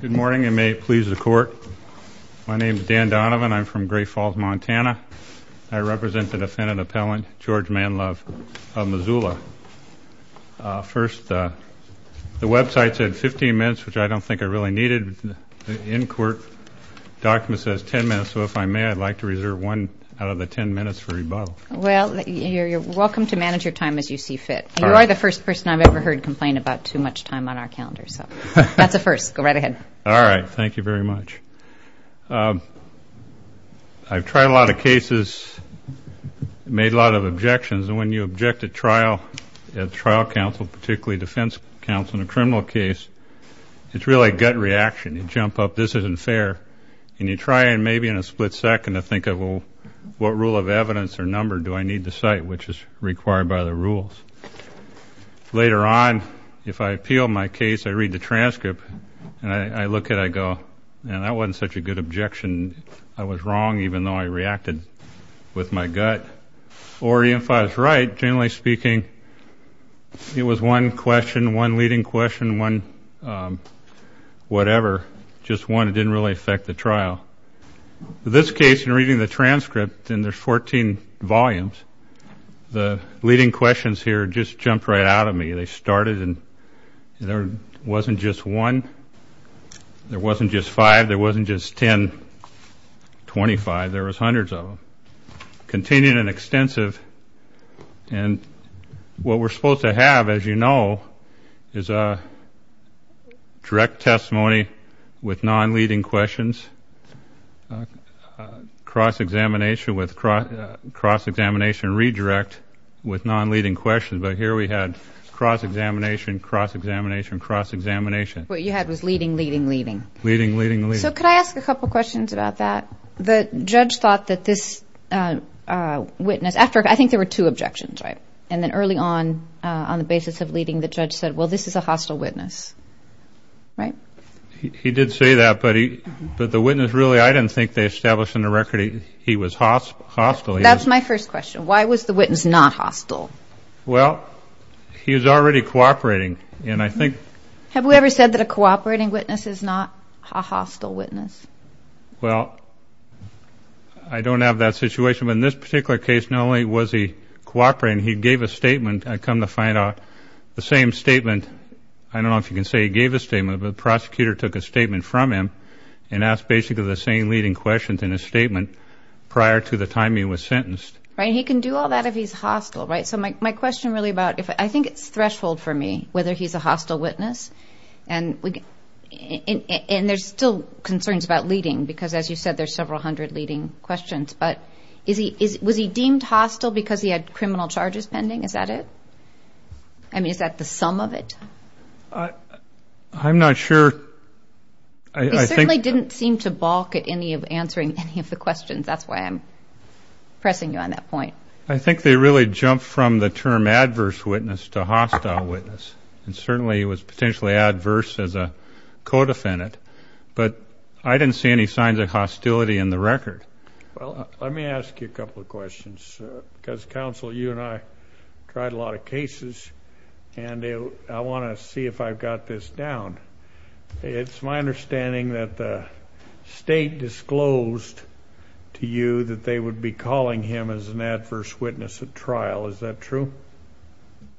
Good morning and may it please the court. My name is Dan Donovan. I'm from Great Falls, Montana. I represent the defendant appellant George Manlove of Missoula. First, the website said 15 minutes, which I don't think I really needed. The in-court document says 10 minutes, so if I may, I'd like to reserve one out of the 10 minutes for rebuttal. Well, you're welcome to manage your time as you see fit. You are the first person I've ever heard complain about too much time on our calendar, so that's a first. Go right ahead. All right. Thank you very much. I've tried a lot of cases, made a lot of objections, and when you object at trial, at trial counsel, particularly defense counsel in a criminal case, it's really a gut reaction. You jump up. This isn't fair. And you try and maybe in a split second to think of what rule of evidence or number do I need to cite, which is required by the rules. Later on, if I appeal my case, I read the transcript, and I look at it, I go, man, that wasn't such a good objection. I was wrong even though I reacted with my gut. Or if I was right, generally speaking, it was one question, one leading question, one whatever, just one. In this case, in reading the transcript, and there's 14 volumes, the leading questions here just jumped right out at me. They started, and there wasn't just one. There wasn't just five. There wasn't just 10, 25. There was hundreds of them. And what we're supposed to have, as you know, is a direct testimony with non-leading questions, cross-examination, cross-examination redirect with non-leading questions. But here we had cross-examination, cross-examination, cross-examination. What you had was leading, leading, leading. Leading, leading, leading. So could I ask a couple questions about that? The judge thought that this witness, after, I think there were two objections, right? And then early on, on the basis of leading, the judge said, well, this is a hostile witness, right? He did say that, but the witness, really, I didn't think they established in the record he was hostile. That's my first question. Why was the witness not hostile? Well, he was already cooperating, and I think. Have we ever said that a cooperating witness is not a hostile witness? Well, I don't have that situation. But in this particular case, not only was he cooperating, he gave a statement. I've come to find out the same statement. I don't know if you can say he gave a statement, but the prosecutor took a statement from him and asked basically the same leading questions in his statement prior to the time he was sentenced. Right. And he can do all that if he's hostile, right? So my question really about, I think it's threshold for me whether he's a hostile witness. And there's still concerns about leading because, as you said, there's several hundred leading questions. But was he deemed hostile because he had criminal charges pending? Is that it? I mean, is that the sum of it? I'm not sure. He certainly didn't seem to balk at any of answering any of the questions. That's why I'm pressing you on that point. I think they really jumped from the term adverse witness to hostile witness. And certainly he was potentially adverse as a co-defendant. But I didn't see any signs of hostility in the record. Well, let me ask you a couple of questions because, counsel, you and I tried a lot of cases, and I want to see if I've got this down. It's my understanding that the state disclosed to you that they would be calling him as an adverse witness at trial. Is that true?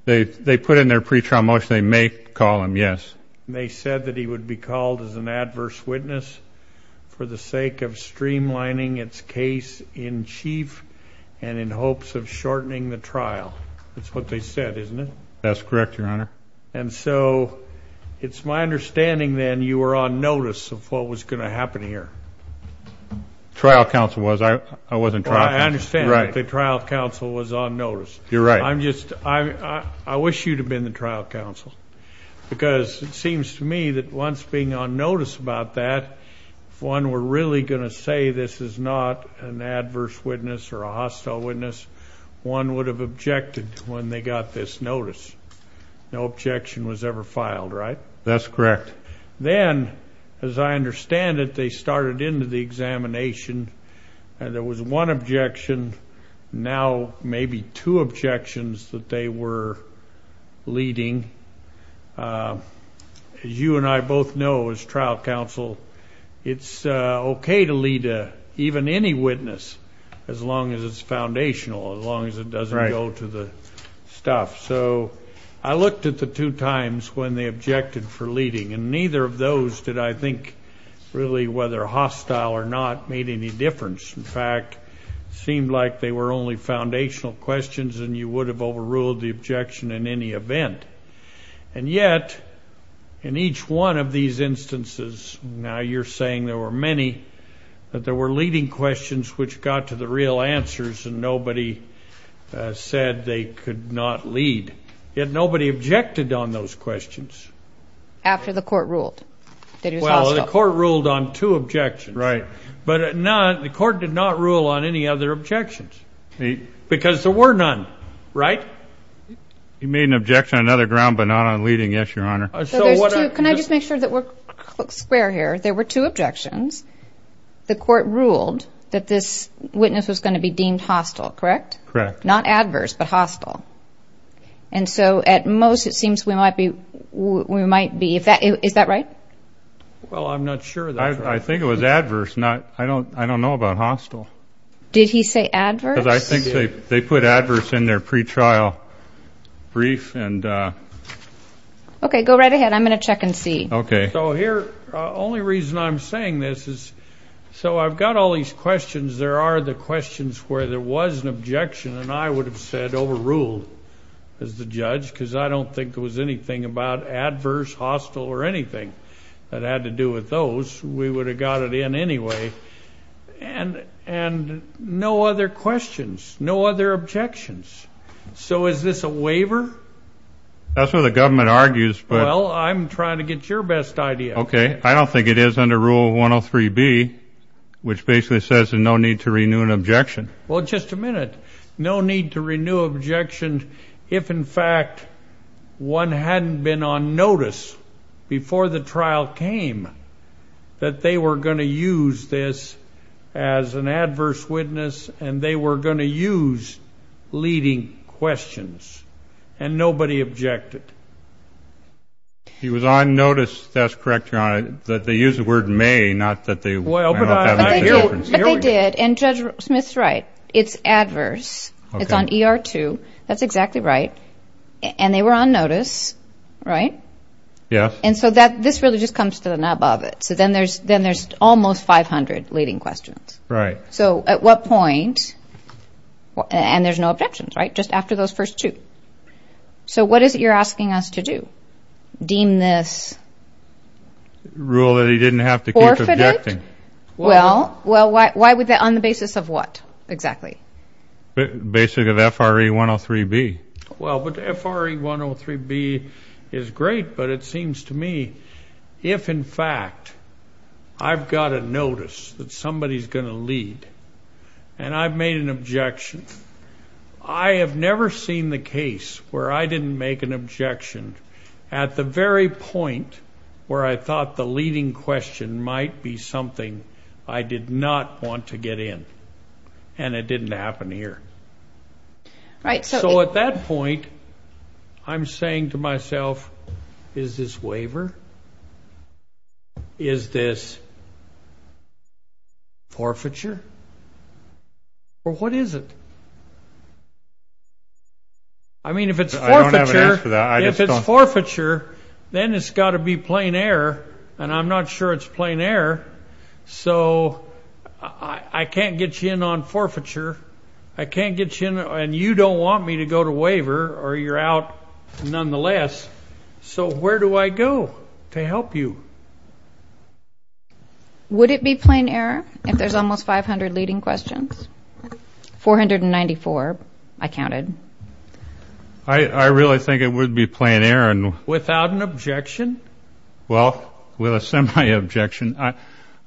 They put in their pretrial motion they may call him, yes. And they said that he would be called as an adverse witness for the sake of streamlining its case in chief and in hopes of shortening the trial. That's what they said, isn't it? That's correct, Your Honor. And so it's my understanding, then, you were on notice of what was going to happen here. The trial counsel was. I wasn't tracking. Well, I understand that the trial counsel was on notice. You're right. I wish you'd have been the trial counsel because it seems to me that once being on notice about that, if one were really going to say this is not an adverse witness or a hostile witness, one would have objected when they got this notice. No objection was ever filed, right? That's correct. Then, as I understand it, they started into the examination, and there was one objection. Now maybe two objections that they were leading. As you and I both know as trial counsel, it's okay to lead even any witness as long as it's foundational, as long as it doesn't go to the stuff. So I looked at the two times when they objected for leading, and neither of those did I think really whether hostile or not made any difference. In fact, it seemed like they were only foundational questions, and you would have overruled the objection in any event. And yet, in each one of these instances, now you're saying there were many, but there were leading questions which got to the real answers, and nobody said they could not lead. Yet nobody objected on those questions. After the court ruled that it was hostile. Well, the court ruled on two objections. Right. But the court did not rule on any other objections because there were none, right? He made an objection on other ground but not on leading. Yes, Your Honor. Can I just make sure that we're square here? There were two objections. The court ruled that this witness was going to be deemed hostile, correct? Correct. Not adverse, but hostile. And so at most, it seems we might be. Is that right? Well, I'm not sure. I think it was adverse. I don't know about hostile. Did he say adverse? Because I think they put adverse in their pretrial brief. Okay, go right ahead. I'm going to check and see. Okay. So here, the only reason I'm saying this is so I've got all these questions. There are the questions where there was an objection, and I would have said overruled as the judge because I don't think there was anything about adverse, hostile, or anything that had to do with those. We would have got it in anyway. And no other questions, no other objections. So is this a waiver? That's what the government argues. Well, I'm trying to get your best idea. Okay. I don't think it is under Rule 103B, which basically says there's no need to renew an objection. Well, just a minute. No need to renew objections if, in fact, one hadn't been on notice before the trial came that they were going to use this as an adverse witness and they were going to use leading questions, and nobody objected. He was on notice. That's correct, Your Honor, that they used the word may, not that they haven't. But they did, and Judge Smith's right. It's adverse. Okay. It's on ER2. That's exactly right. And they were on notice, right? Yes. And so this really just comes to the nub of it. So then there's almost 500 leading questions. Right. So at what point, and there's no objections, right, just after those first two. So what is it you're asking us to do? Deem this forfeited? Rule that he didn't have to keep objecting. Well, why would that, on the basis of what exactly? Basic of FRA 103B. Well, but FRA 103B is great, but it seems to me if, in fact, I've got a notice that somebody's going to lead and I've made an objection, I have never seen the case where I didn't make an objection at the very point where I thought the leading question might be something I did not want to get in, and it didn't happen here. Right. So at that point, I'm saying to myself, is this waiver? Is this forfeiture? Or what is it? I mean, if it's forfeiture, then it's got to be plain error, and I'm not sure it's plain error. So I can't get you in on forfeiture. I can't get you in, and you don't want me to go to waiver, or you're out nonetheless. So where do I go to help you? Would it be plain error if there's almost 500 leading questions? 494, I counted. I really think it would be plain error. Without an objection? Well, with a semi-objection.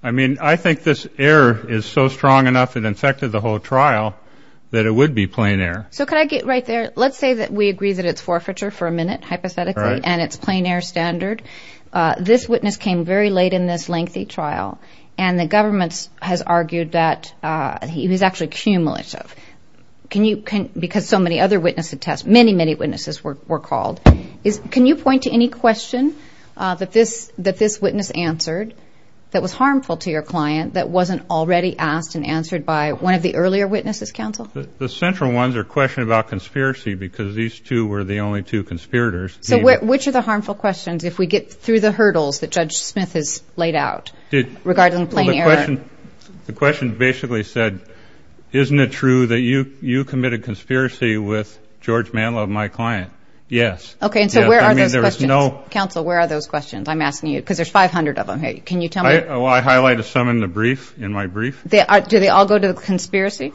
I mean, I think this error is so strong enough, it infected the whole trial, that it would be plain error. So can I get right there? Let's say that we agree that it's forfeiture for a minute, hypothetically, and it's plain error standard. This witness came very late in this lengthy trial, and the government has argued that he was actually cumulative. Can you, because so many other witnesses, many, many witnesses were called. Can you point to any question that this witness answered that was harmful to your client that wasn't already asked and answered by one of the earlier witnesses, counsel? The central ones are questions about conspiracy, because these two were the only two conspirators. So which are the harmful questions, if we get through the hurdles that Judge Smith has laid out, regarding plain error? The question basically said, isn't it true that you committed conspiracy with George Mantle of my client? Yes. Okay, and so where are those questions? Counsel, where are those questions? I'm asking you, because there's 500 of them. Can you tell me? Well, I highlighted some in the brief, in my brief. Did they all go to the conspiracy?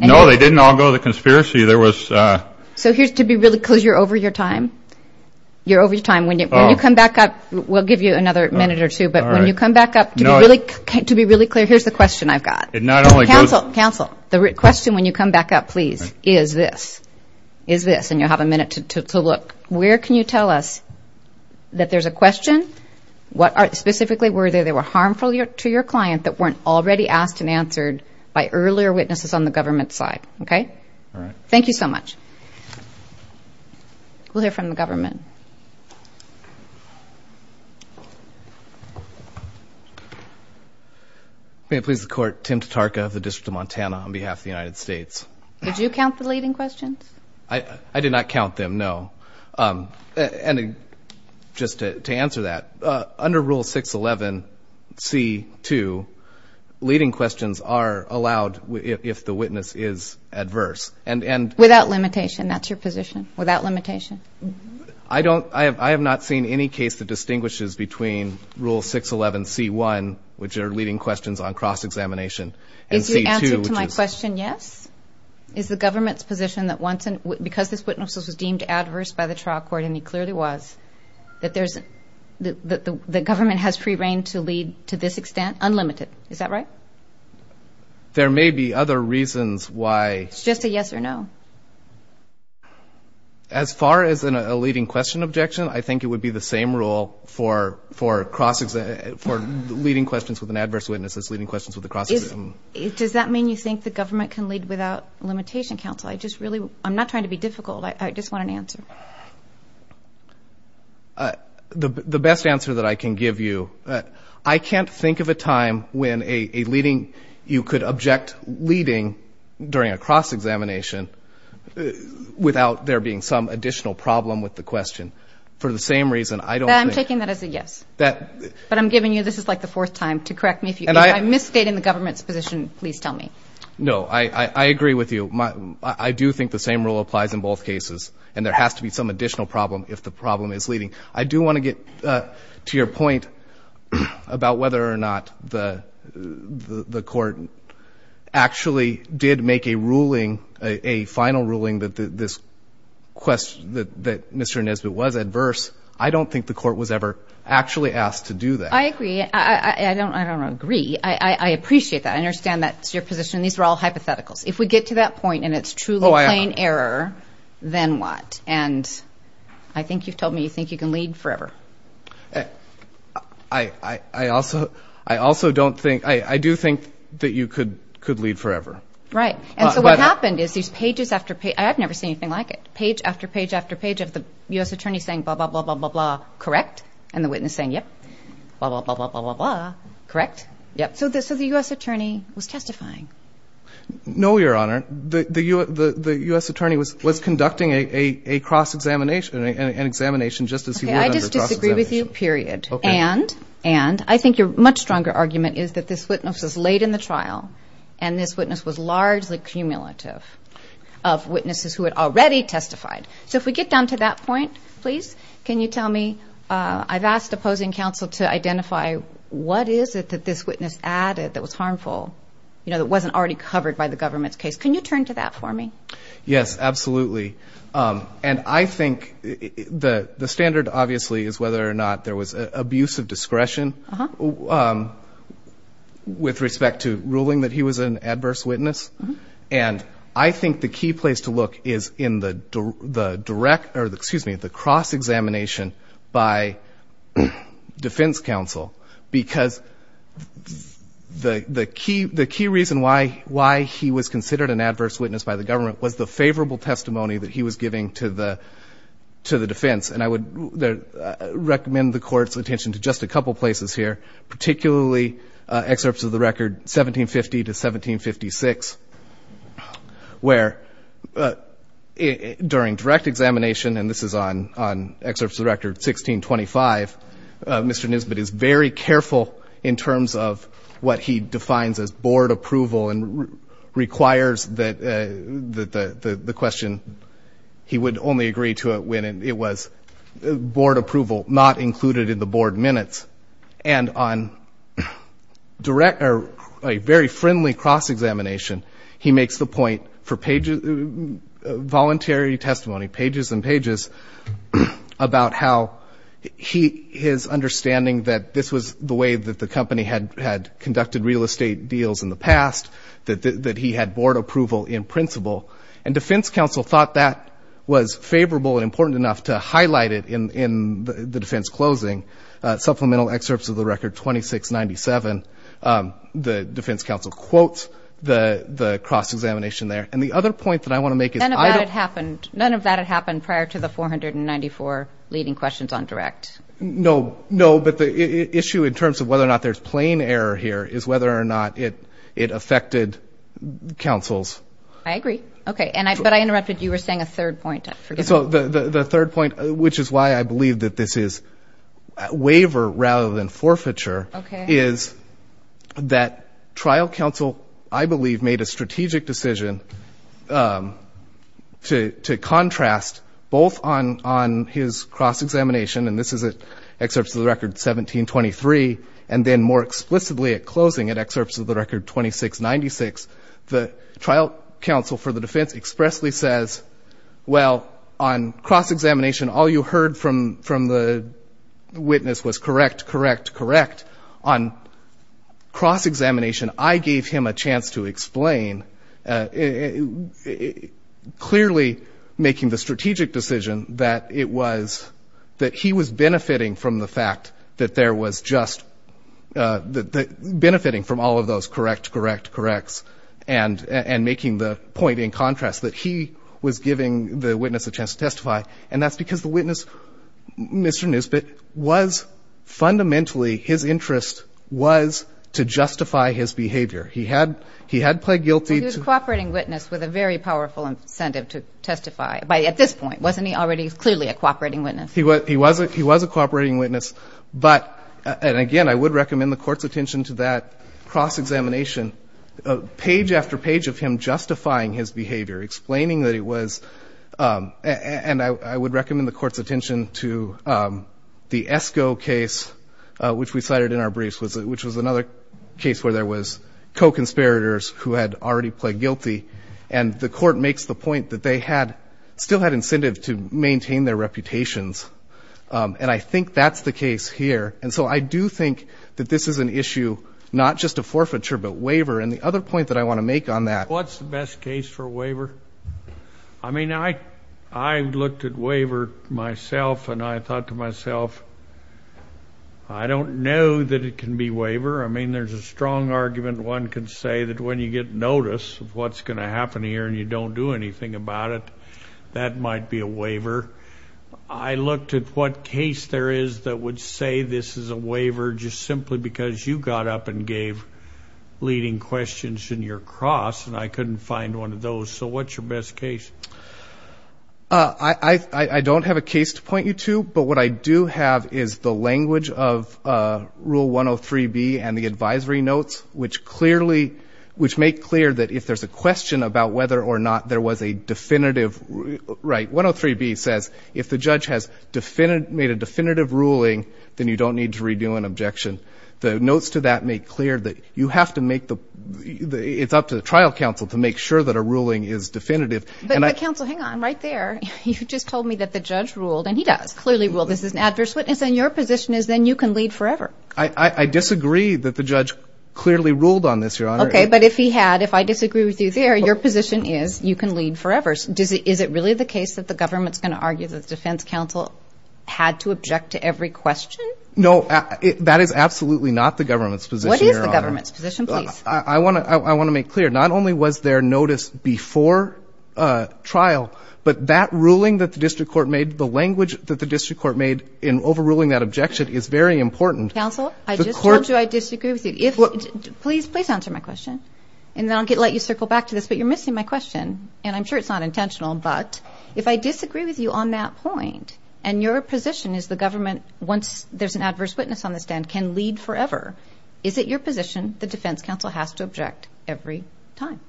No, they didn't all go to the conspiracy. So here's to be really clear, because you're over your time. You're over your time. When you come back up, we'll give you another minute or two. But when you come back up, to be really clear, here's the question I've got. Counsel, counsel, the question when you come back up, please, is this. Is this, and you'll have a minute to look. Where can you tell us that there's a question? Specifically, were there harmful to your client that weren't already asked and answered by earlier witnesses on the government side? Okay? All right. Thank you so much. We'll hear from the government. May it please the Court, Tim Tatarka of the District of Montana on behalf of the United States. Did you count the leading questions? I did not count them, no. And just to answer that, under Rule 611C2, leading questions are allowed if the witness is adverse. Without limitation. That's your position? Without limitation. I have not seen any case that distinguishes between Rule 611C1, which are leading questions on cross-examination, and C2. Is your answer to my question yes? Is the government's position that because this witness was deemed adverse by the trial court, and he clearly was, that the government has free reign to lead to this extent? Unlimited. Is that right? There may be other reasons why. It's just a yes or no. As far as a leading question objection, I think it would be the same rule for leading questions with an adverse witness as leading questions with a cross-examination. Does that mean you think the government can lead without limitation counsel? I'm not trying to be difficult. I just want an answer. The best answer that I can give you, I can't think of a time when you could object leading during a cross-examination without there being some additional problem with the question. For the same reason, I don't think. I'm taking that as a yes. But I'm giving you this is like the fourth time to correct me. If I misstate in the government's position, please tell me. No, I agree with you. I do think the same rule applies in both cases, and there has to be some additional problem if the problem is leading. I do want to get to your point about whether or not the court actually did make a ruling, a final ruling that this question, that Mr. Nesbitt was adverse. I don't think the court was ever actually asked to do that. I agree. I don't agree. I appreciate that. I understand that's your position. These are all hypotheticals. If we get to that point and it's truly plain error, then what? And I think you've told me you think you can lead forever. I also don't think – I do think that you could lead forever. Right. And so what happened is these pages after page – I've never seen anything like it. Page after page after page of the U.S. attorney saying blah, blah, blah, blah, blah, correct, and the witness saying, yep, blah, blah, blah, blah, blah, correct, yep. So the U.S. attorney was testifying. No, Your Honor. The U.S. attorney was conducting a cross-examination, an examination just as he would under cross-examination. Okay, I just disagree with you, period. And I think your much stronger argument is that this witness was late in the trial and this witness was largely cumulative of witnesses who had already testified. So if we get down to that point, please, can you tell me – I've asked opposing counsel to identify what is it that this witness added that was harmful, you know, that wasn't already covered by the government's case. Can you turn to that for me? Yes, absolutely. And I think the standard, obviously, is whether or not there was abuse of discretion with respect to ruling that he was an adverse witness. And I think the key place to look is in the cross-examination by defense counsel because the key reason why he was considered an adverse witness by the government was the favorable testimony that he was giving to the defense. And I would recommend the Court's attention to just a couple places here, particularly excerpts of the record 1750 to 1756, where during direct examination, and this is on excerpts of the record 1625, Mr. Nisbet is very careful in terms of what he defines as board approval and requires that the question, he would only agree to it when it was board approval, not included in the board minutes. And on a very friendly cross-examination, he makes the point for voluntary testimony, pages and pages, about how his understanding that this was the way that the company had conducted real estate deals in the past, that he had board approval in principle. And defense counsel thought that was favorable and important enough to highlight it in the defense closing. Supplemental excerpts of the record 2697, the defense counsel quotes the cross-examination there. And the other point that I want to make is I don't — None of that had happened prior to the 494 leading questions on direct. No, no, but the issue in terms of whether or not there's plain error here is whether or not it affected counsels. I agree. Okay. But I interrupted. You were saying a third point. So the third point, which is why I believe that this is waiver rather than forfeiture, is that trial counsel, I believe, made a strategic decision to contrast both on his cross-examination, and this is excerpts of the record 1723, and then more explicitly at closing, at excerpts of the record 2696, the trial counsel for the defense expressly says, well, on cross-examination, all you heard from the witness was correct, correct, correct. On cross-examination, I gave him a chance to explain, clearly making the strategic decision that it was — that he was benefiting from the fact that there was just — benefiting from all of those correct, correct, corrects, and making the point in contrast that he was giving the witness a chance to testify, and that's because the witness, Mr. Nusbitt, was fundamentally — his interest was to justify his behavior. He had — he had pled guilty to — He was a cooperating witness with a very powerful incentive to testify at this point. Wasn't he already clearly a cooperating witness? He was a cooperating witness, but — and again, I would recommend the court's attention to that cross-examination, page after page of him justifying his behavior, explaining that it was — and I would recommend the court's attention to the Esko case, which we cited in our briefs, which was another case where there was co-conspirators who had already pled guilty, and the court makes the point that they had — still had incentive to maintain their reputations, and I think that's the case here. And so I do think that this is an issue not just of forfeiture but waiver, and the other point that I want to make on that — What's the best case for waiver? I mean, I looked at waiver myself, and I thought to myself, I don't know that it can be waiver. I mean, there's a strong argument one can say that when you get notice of what's going to happen here and you don't do anything about it, that might be a waiver. I looked at what case there is that would say this is a waiver just simply because you got up and gave leading questions in your cross, and I couldn't find one of those. So what's your best case? I don't have a case to point you to, but what I do have is the language of Rule 103B and the advisory notes, which clearly — which make clear that if there's a question about whether or not there was a definitive — right, 103B says if the judge has made a definitive ruling, then you don't need to redo an objection. The notes to that make clear that you have to make the — it's up to the trial counsel to make sure that a ruling is definitive. But counsel, hang on right there. You just told me that the judge ruled, and he does clearly rule this is an adverse witness, and your position is then you can lead forever. I disagree that the judge clearly ruled on this, Your Honor. Okay, but if he had, if I disagree with you there, your position is you can lead forever. Is it really the case that the government's going to argue that the defense counsel had to object to every question? No, that is absolutely not the government's position, Your Honor. What is the government's position, please? I want to make clear, not only was there notice before trial, but that ruling that the district court made, the language that the district court made in overruling that objection is very important. Counsel, I just told you I disagree with you. If — please, please answer my question, and then I'll let you circle back to this. But you're missing my question, and I'm sure it's not intentional. But if I disagree with you on that point, and your position is the government, once there's an adverse witness on the stand, can lead forever, is it your position the defense counsel has to object every time?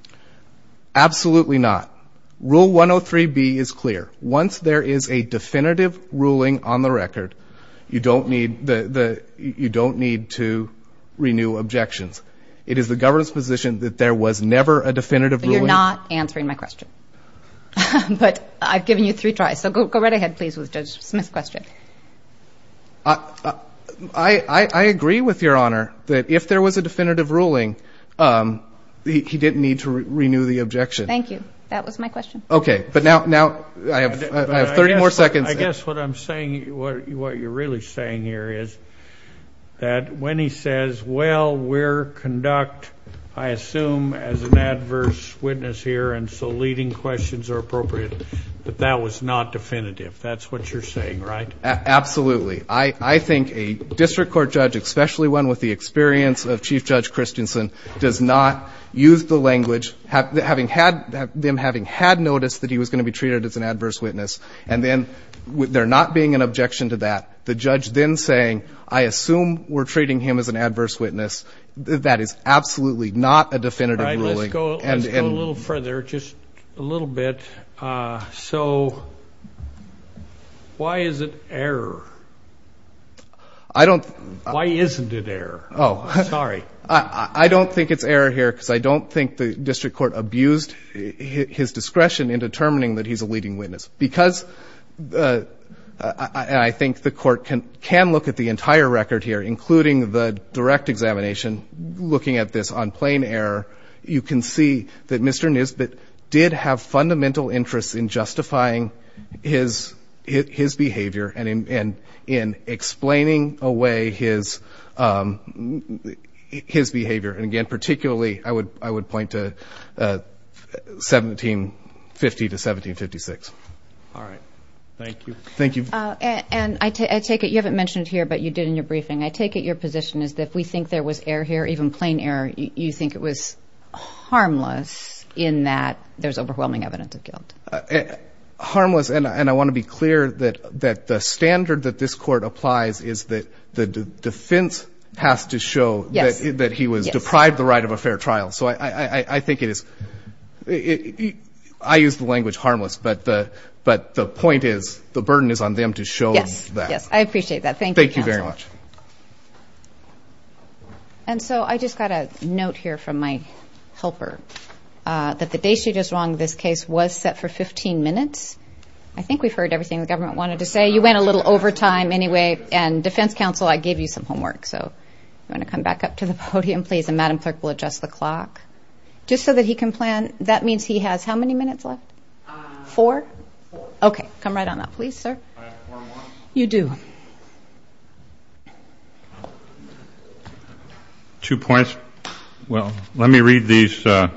Absolutely not. Rule 103B is clear. Once there is a definitive ruling on the record, you don't need to renew objections. It is the government's position that there was never a definitive ruling. But you're not answering my question. But I've given you three tries, so go right ahead, please, with Judge Smith's question. I agree with Your Honor that if there was a definitive ruling, he didn't need to renew the objection. Thank you. That was my question. Okay. But now I have 30 more seconds. I guess what I'm saying, what you're really saying here is that when he says, well, we're conduct, I assume, as an adverse witness here, and so leading questions are appropriate, that that was not definitive. That's what you're saying, right? Absolutely. I think a district court judge, especially one with the experience of Chief Judge Christensen, does not use the language, them having had noticed that he was going to be treated as an adverse witness, and then there not being an objection to that, the judge then saying, I assume we're treating him as an adverse witness, that is absolutely not a definitive ruling. All right. Let's go a little further, just a little bit. So why is it error? I don't. Why isn't it error? Oh. Sorry. I don't think it's error here, because I don't think the district court abused his discretion in determining that he's a leading witness, because I think the court can look at the entire record here, including the direct examination, looking at this on plain error, you can see that Mr. Nisbet did have fundamental interests in justifying his behavior and in explaining away his behavior. And, again, particularly I would point to 1750 to 1756. All right. Thank you. Thank you. And I take it, you haven't mentioned it here, but you did in your briefing, I take it your position is that if we think there was error here, even plain error, you think it was harmless in that there's overwhelming evidence of guilt. Harmless, and I want to be clear that the standard that this court applies is that the defense has to show that he was deprived the right of a fair trial. So I think it is ‑‑ I use the language harmless, but the point is the burden is on them to show that. Yes. Yes. I appreciate that. Thank you, counsel. Thank you very much. And so I just got a note here from my helper that the day she was wrong in this case was set for 15 minutes. I think we've heard everything the government wanted to say. You went a little over time anyway, and defense counsel, I gave you some homework. So you want to come back up to the podium, please, and Madam Clerk will adjust the clock. Just so that he can plan, that means he has how many minutes left? Four? Four. Okay. Come right on up, please, sir. I have four months. You do. Two points. Well, let me read these. I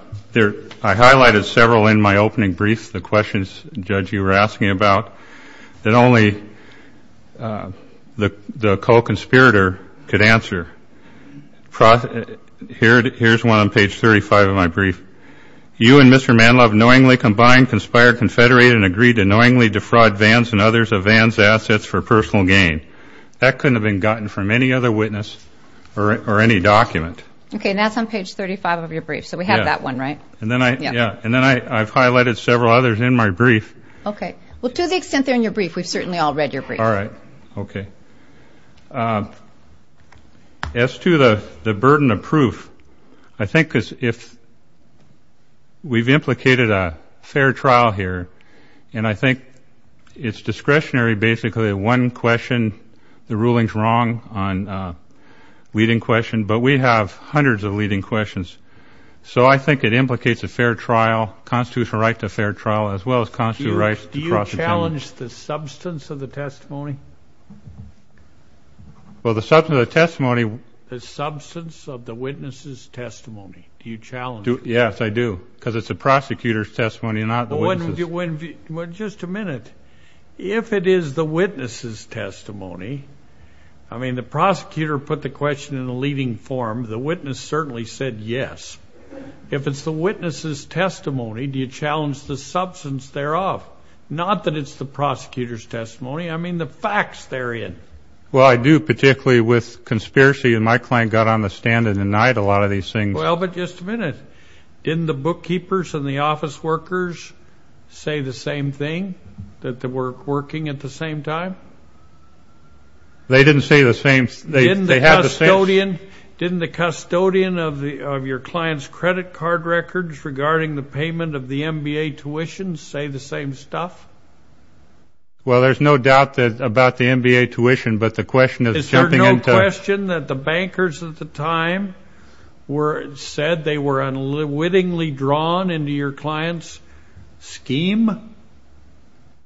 highlighted several in my opening brief, the questions, Judge, you were asking about that only the co‑conspirator could answer. Here's one on page 35 of my brief. You and Mr. Manlove knowingly combined, conspired, confederated, and agreed to knowingly defraud Vans and others of Vans' assets for personal gain. That couldn't have been gotten from any other witness or any document. Okay. And that's on page 35 of your brief. So we have that one, right? Yeah. And then I've highlighted several others in my brief. Okay. Well, to the extent they're in your brief, we've certainly all read your brief. All right. Okay. As to the burden of proof, I think because if we've implicated a fair trial here, and I think it's discretionary, basically, one question, the ruling's wrong on leading question, but we have hundreds of leading questions. So I think it implicates a fair trial, constitutional right to a fair trial, as well as constitutional rights. Do you challenge the substance of the testimony? Well, the substance of the testimony. The substance of the witness's testimony. Do you challenge it? Yes, I do, because it's the prosecutor's testimony, not the witness's. Just a minute. If it is the witness's testimony, I mean, the prosecutor put the question in a leading form. The witness certainly said yes. If it's the witness's testimony, do you challenge the substance thereof? Not that it's the prosecutor's testimony. I mean, the facts they're in. Well, I do, particularly with conspiracy, and my client got on the stand and denied a lot of these things. Well, but just a minute. Didn't the bookkeepers and the office workers say the same thing, that they were working at the same time? They didn't say the same. Didn't the custodian of your client's credit card records regarding the payment of the MBA tuition say the same stuff? Well, there's no doubt about the MBA tuition, but the question is jumping into – Is there no question that the bankers at the time said they were unwittingly drawn into your client's scheme?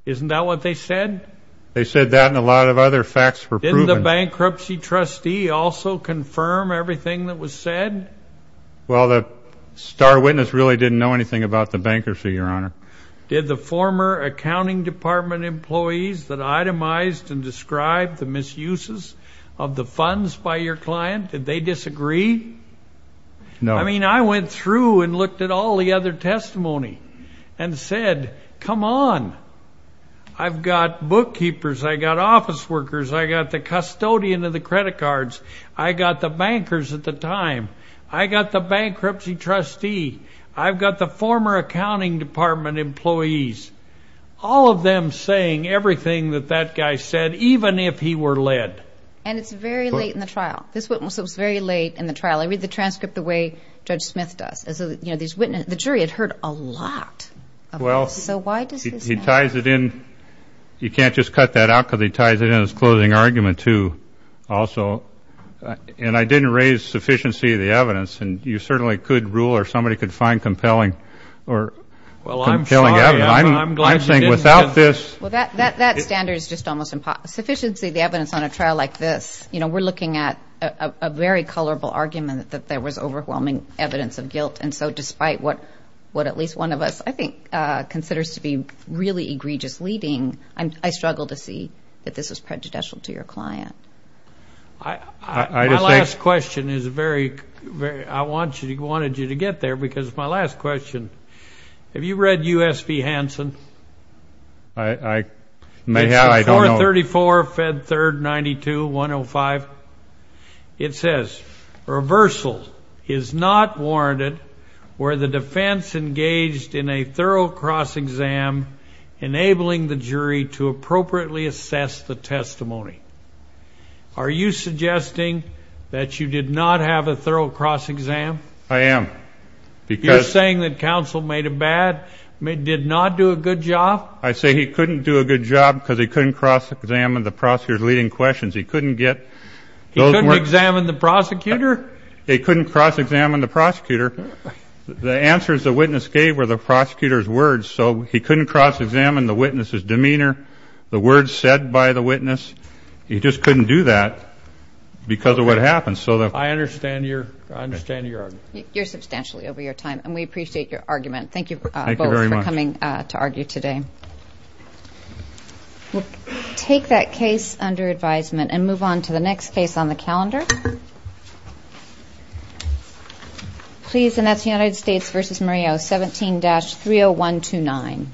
Isn't that what they said? They said that and a lot of other facts were proven. Didn't the bankruptcy trustee also confirm everything that was said? Well, the star witness really didn't know anything about the bankruptcy, Your Honor. Did the former accounting department employees that itemized and described the misuses of the funds by your client, did they disagree? No. I mean, I went through and looked at all the other testimony and said, come on. I've got bookkeepers. I've got office workers. I've got the custodian of the credit cards. I've got the bankers at the time. I've got the bankruptcy trustee. I've got the former accounting department employees. All of them saying everything that that guy said, even if he were led. And it's very late in the trial. This witness was very late in the trial. I read the transcript the way Judge Smith does. The jury had heard a lot of this. So why does this matter? He ties it in. You can't just cut that out because he ties it in his closing argument, too. Also, and I didn't raise sufficiency of the evidence. And you certainly could rule or somebody could find compelling or compelling evidence. I'm saying without this. Well, that standard is just almost impossible. Sufficiency of the evidence on a trial like this, you know, we're looking at a very colorful argument that there was overwhelming evidence of guilt. And so despite what at least one of us, I think, considers to be really egregious leading, I struggle to see that this is prejudicial to your client. My last question is very, very, I wanted you to get there because it's my last question. Have you read U.S. v. Hansen? I may have, I don't know. 434, Fed 3rd, 92, 105. It says, reversal is not warranted where the defense engaged in a thorough cross-exam, enabling the jury to appropriately assess the testimony. Are you suggesting that you did not have a thorough cross-exam? I am. You're saying that counsel made a bad, did not do a good job? I say he couldn't do a good job because he couldn't cross-examine the prosecutor's leading questions. He couldn't get those words. He couldn't examine the prosecutor? He couldn't cross-examine the prosecutor. The answers the witness gave were the prosecutor's words. So he couldn't cross-examine the witness's demeanor, the words said by the witness. He just couldn't do that because of what happened. I understand your argument. You're substantially over your time, and we appreciate your argument. Thank you both for coming to argue today. We'll take that case under advisement and move on to the next case on the calendar. Please, and that's the United States v. Murillo, 17-30129.